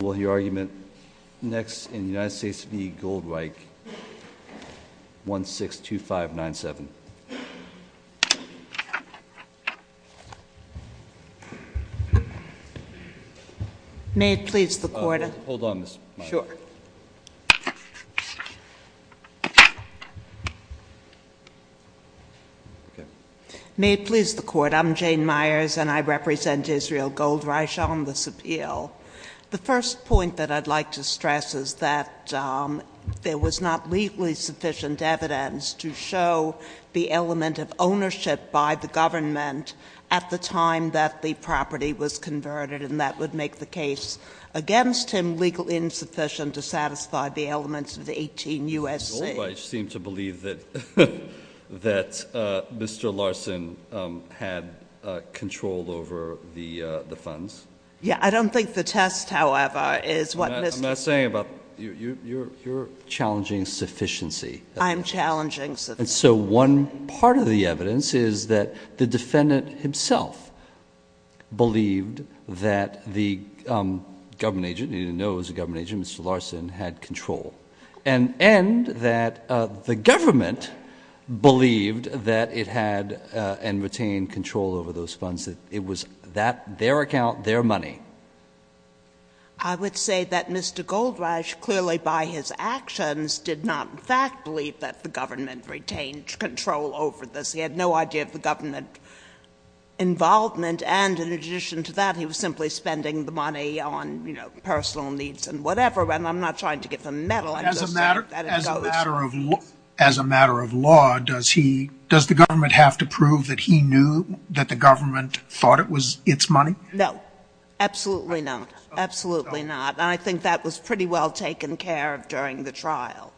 Will your argument next in the United States v. Goldreich, 162597. May it please the court. Hold on Ms. Myers. Sure. May it please the court. I'm Jane Myers and I represent Israel Goldreich on this appeal. The first point that I'd like to stress is that there was not legally sufficient evidence to show the element of ownership by the government at the time that the property was converted and that would make the case against him legally insufficient to satisfy the elements of the 18 U.S.C. Goldreich seemed to believe that Mr. Larson had control over the funds. Yeah, I don't think the test, however, is what Mr.... I'm not saying about... you're challenging sufficiency. I'm challenging... And so one part of the evidence is that the defendant himself believed that the government agent, he didn't know it was a government agent, Mr. Larson, had control. And that the government believed that it had and retained control over those funds. It was that, their account, their money. I would say that Mr. Goldreich, clearly by his actions, did not in fact believe that the government retained control over this. He had no idea of the government involvement and in addition to that, he was simply spending the money on, you know, personal needs and whatever. And I'm not trying to give a medal. As a matter of law, does he, does the government have to prove that he knew that the government thought it was its money? No. Absolutely not. Absolutely not. And I think that was pretty well taken care of during the trial.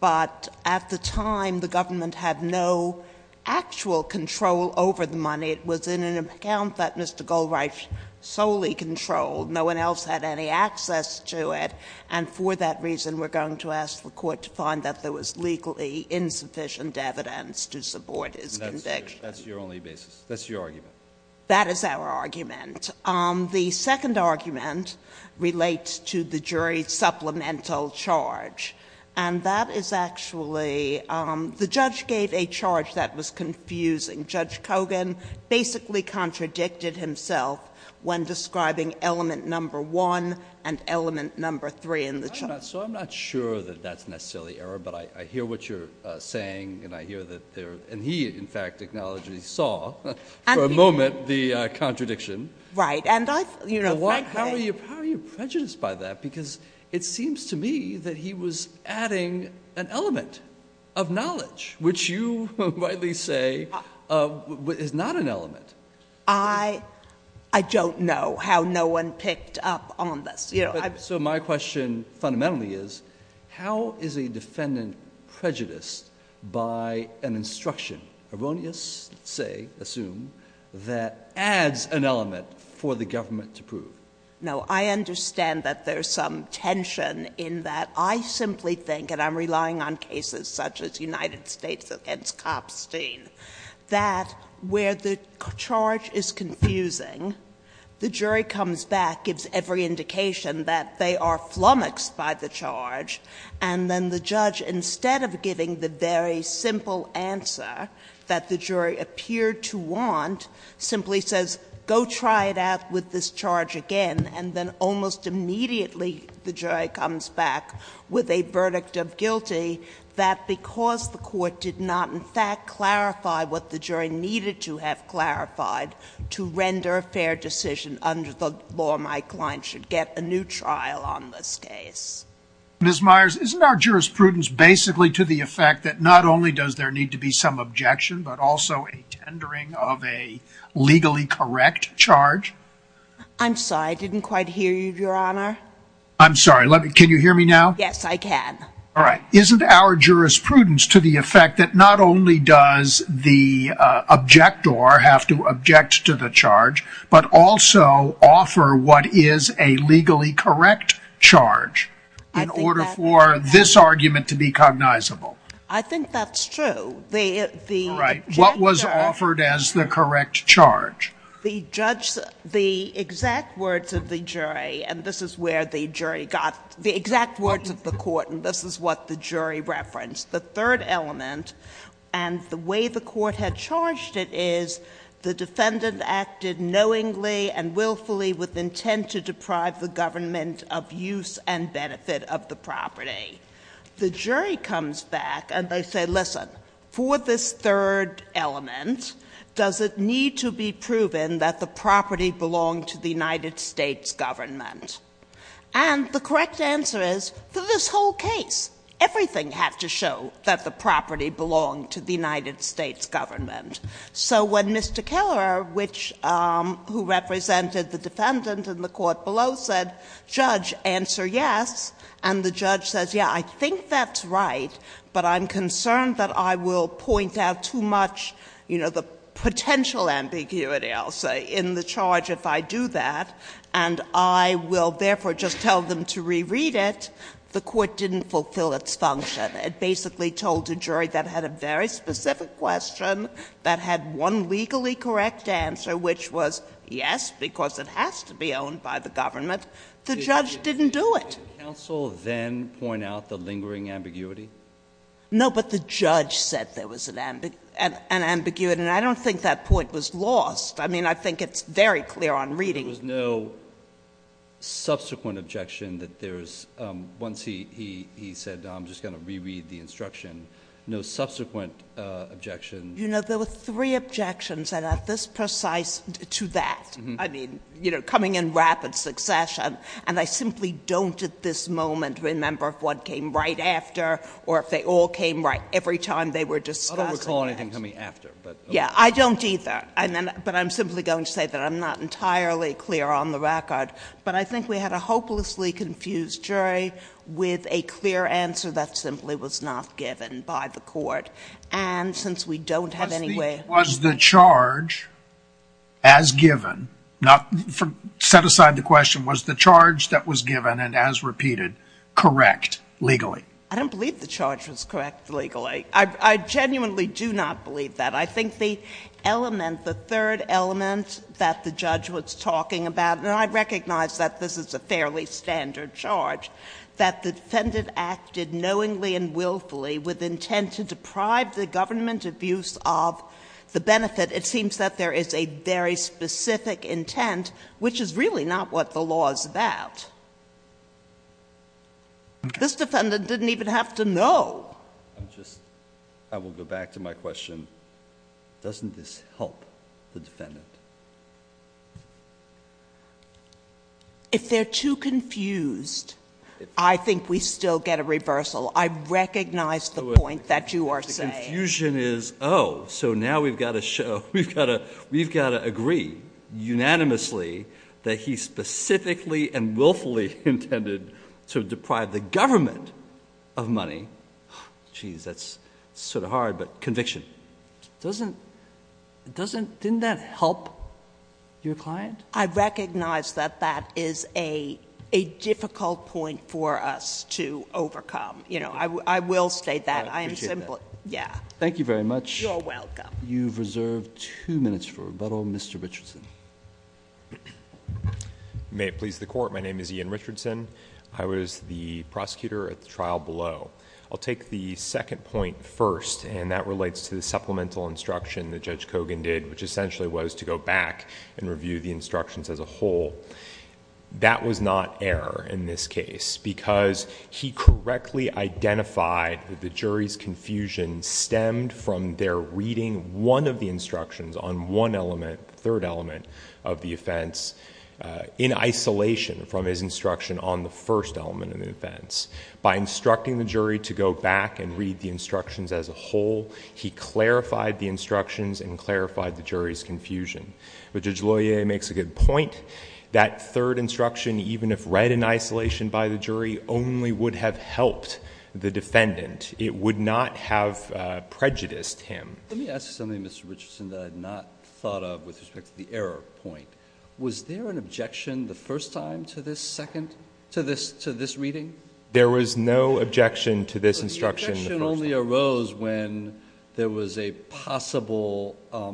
But at the time, the government had no actual control over the money. It was in an account that Mr. Goldreich solely controlled. No one else had any access to it. And for that reason, we're going to ask the court to find that there was legally insufficient evidence to support his conviction. That's your only basis. That's your argument. That is our argument. The second argument relates to the jury's supplemental charge. And that is actually, the judge gave a charge that was confusing. Judge Kogan basically contradicted himself when describing element number one and element number three in the charge. So I'm not sure that that's necessarily error, but I hear what you're saying and I hear that there, and he in fact acknowledged he saw for a moment the contradiction. Right. How are you prejudiced by that? Which you rightly say is not an element. I don't know how no one picked up on this. So my question fundamentally is, how is a defendant prejudiced by an instruction, erroneous, say, assume, that adds an element for the government to prove? No, I understand that there's some tension in that I simply think, and I'm relying on cases such as United States against Kopstein, that where the charge is confusing, the jury comes back, gives every indication that they are flummoxed by the charge, and then the judge, instead of giving the very simple answer that the jury appeared to want, simply says, go try it out with this charge again, and then almost immediately the jury comes back with a verdict of guilty that because the court did not in fact clarify what the jury needed to have clarified to render a fair decision under the law, my client should get a new trial on this case. Ms. Myers, isn't our jurisprudence basically to the effect that not only does there need to be some objection, but also a tendering of a legally correct charge? I'm sorry. I didn't quite hear you, Your Honor. I'm sorry. Can you hear me now? Yes, I can. All right. Isn't our jurisprudence to the effect that not only does the objector have to object to the charge, but also offer what is a legally correct charge in order for this argument to be cognizable? I think that's true. All right. What was offered as the correct charge? The judge — the exact words of the jury, and this is where the jury got — the exact words of the court, and this is what the jury referenced. The third element, and the way the court had charged it, is the defendant acted knowingly and willfully with intent to deprive the government of use and benefit of the property. The jury comes back, and they say, listen, for this third element, does it need to be proven that the property belonged to the United States government? And the correct answer is, for this whole case, everything had to show that the property belonged to the United States government. So when Mr. Keller, which — who represented the defendant in the court below said, judge, answer yes, and the judge says, yeah, I think that's right, but I'm going to point out too much, you know, the potential ambiguity, I'll say, in the charge if I do that, and I will, therefore, just tell them to reread it, the court didn't fulfill its function. It basically told a jury that had a very specific question, that had one legally correct answer, which was yes, because it has to be owned by the government. The judge didn't do it. JUSTICE BREYER. Did the counsel then point out the lingering ambiguity? JUSTICE SOTOMAYOR. No, but the judge said there was an ambiguity. And I don't think that point was lost. I mean, I think it's very clear on reading. JUSTICE BREYER. There was no subsequent objection that there's — once he said, I'm just going to reread the instruction, no subsequent objection. JUSTICE SOTOMAYOR. You know, there were three objections that are this precise to that. I mean, you know, coming in rapid succession, and I simply don't at this moment remember if one came right after or if they all came right every time they were JUSTICE BREYER. I don't recall anything coming after. JUSTICE SOTOMAYOR. Yeah, I don't either. But I'm simply going to say that I'm not entirely clear on the record. But I think we had a hopelessly confused jury with a clear answer that simply was not given by the court. And since we don't have any way of — JUSTICE SCALIA. Was the charge as given — set aside the question, was the charge that was given and as repeated correct legally? JUSTICE SOTOMAYOR. I don't believe the charge was correct legally. I genuinely do not believe that. I think the element, the third element that the judge was talking about, and I recognize that this is a fairly standard charge, that the defendant acted knowingly and willfully with intent to deprive the government of use of the benefit. It seems that there is a very specific intent, which is really not what the law is about. This defendant didn't even have to know. JUSTICE BREYER. I'm just — I will go back to my question. Doesn't this help the defendant? JUSTICE SOTOMAYOR. If they're too confused, I think we still get a reversal. I recognize the point that you are saying. JUSTICE BREYER. And the confusion is, oh, so now we've got to show — we've got to agree unanimously that he specifically and willfully intended to deprive the government of money. Jeez, that's sort of hard, but conviction. Doesn't — doesn't — didn't that help your client? JUSTICE SOTOMAYOR. I recognize that that is a difficult point for us to overcome. You know, I will state that. I am simply — yeah. JUSTICE BREYER. JUSTICE SOTOMAYOR. You're welcome. JUSTICE BREYER. You've reserved two minutes for rebuttal. Mr. Richardson. IAN RICHARDSON. May it please the Court, my name is Ian Richardson. I was the prosecutor at the trial below. I'll take the second point first, and that relates to the supplemental instruction that Judge Kogan did, which essentially was to go back and review the instructions as a whole. That was not error in this case because he correctly identified that the jury's confusion stemmed from their reading one of the instructions on one element, the third element of the offense, in isolation from his instruction on the first element of the offense. By instructing the jury to go back and read the instructions as a whole, he clarified the instructions and clarified the jury's confusion. But Judge Loyer makes a good point. That third instruction, even if read in isolation by the jury, only would have helped the defendant. It would not have prejudiced him. JUSTICE BREYER. Let me ask you something, Mr. Richardson, that I had not thought of with respect to the error point. Was there an objection the first time to this second — to this reading? There was no objection to this instruction the first time. JUSTICE BREYER. The objection only arose when there was a possible — well,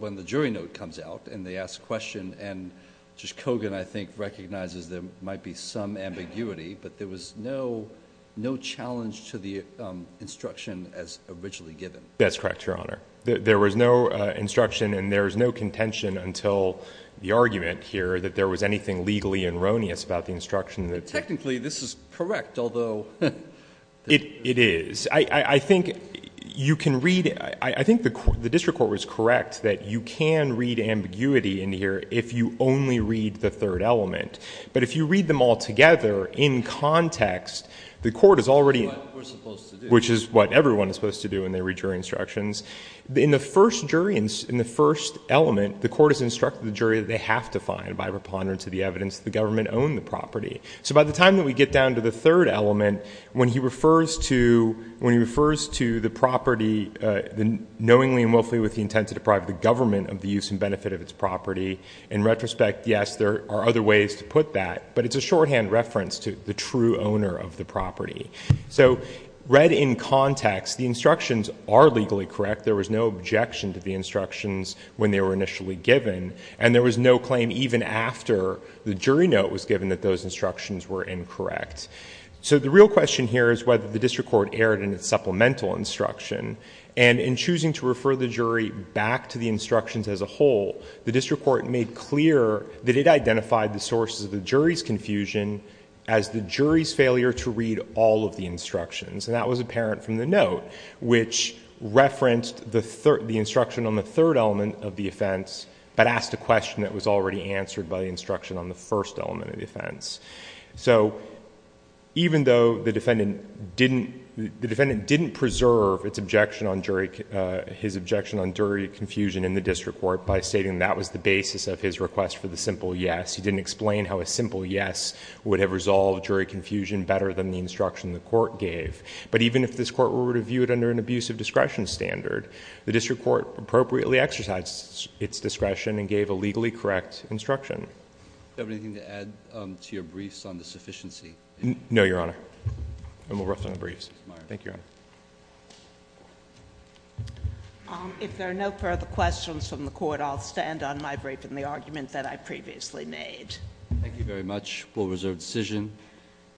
when the jury note comes out and they ask a question, and Judge Kogan, I think, recognizes there might be some ambiguity, but there was no challenge to the instruction as originally given. MR. RICHARDSON. That's correct, Your Honor. There was no instruction and there was no contention until the argument here that there was anything legally erroneous about the instruction that — JUSTICE BREYER. Technically, this is correct, although — MR. RICHARDSON. It is. I think you can read — I think the district court was correct that you can read ambiguity in here if you only read the third element. But if you read them all together in context, the court is already — JUSTICE BREYER. Which is what we're supposed to do. MR. RICHARDSON. Which is what everyone is supposed to do when they read jury instructions. In the first jury — in the first element, the court has instructed the jury that they have to find, by preponderance of the evidence, that the government owned the property. So by the time that we get down to the third element, when he refers to — when he refers to the property, knowingly and willfully with the intent to deprive the government of the use and benefit of its property, in retrospect, yes, there are other ways to put that. But it's a shorthand reference to the true owner of the property. So read in context, the instructions are legally correct. There was no objection to the instructions when they were initially given. And there was no claim even after the jury note was given that those instructions were incorrect. So the real question here is whether the district court erred in its supplemental instruction. And in choosing to refer the jury back to the instructions as a whole, the district court made clear that it identified the sources of the jury's confusion as the jury's failure to read all of the instructions. And that was apparent from the note, which referenced the instruction on the first element of defense, but asked a question that was already answered by the instruction on the first element of defense. So even though the defendant didn't — the defendant didn't preserve its objection on jury — his objection on jury confusion in the district court by stating that was the basis of his request for the simple yes, he didn't explain how a simple yes would have resolved jury confusion better than the instruction the court gave. But even if this court were to view it under an abusive discretion standard, the district court appropriately exercised its discretion and gave a legally correct instruction. Do you have anything to add to your briefs on the sufficiency? No, Your Honor. And we'll wrap up the briefs. Thank you, Your Honor. If there are no further questions from the court, I'll stand on my brief and the argument that I previously made. Thank you very much. We'll reserve the decision.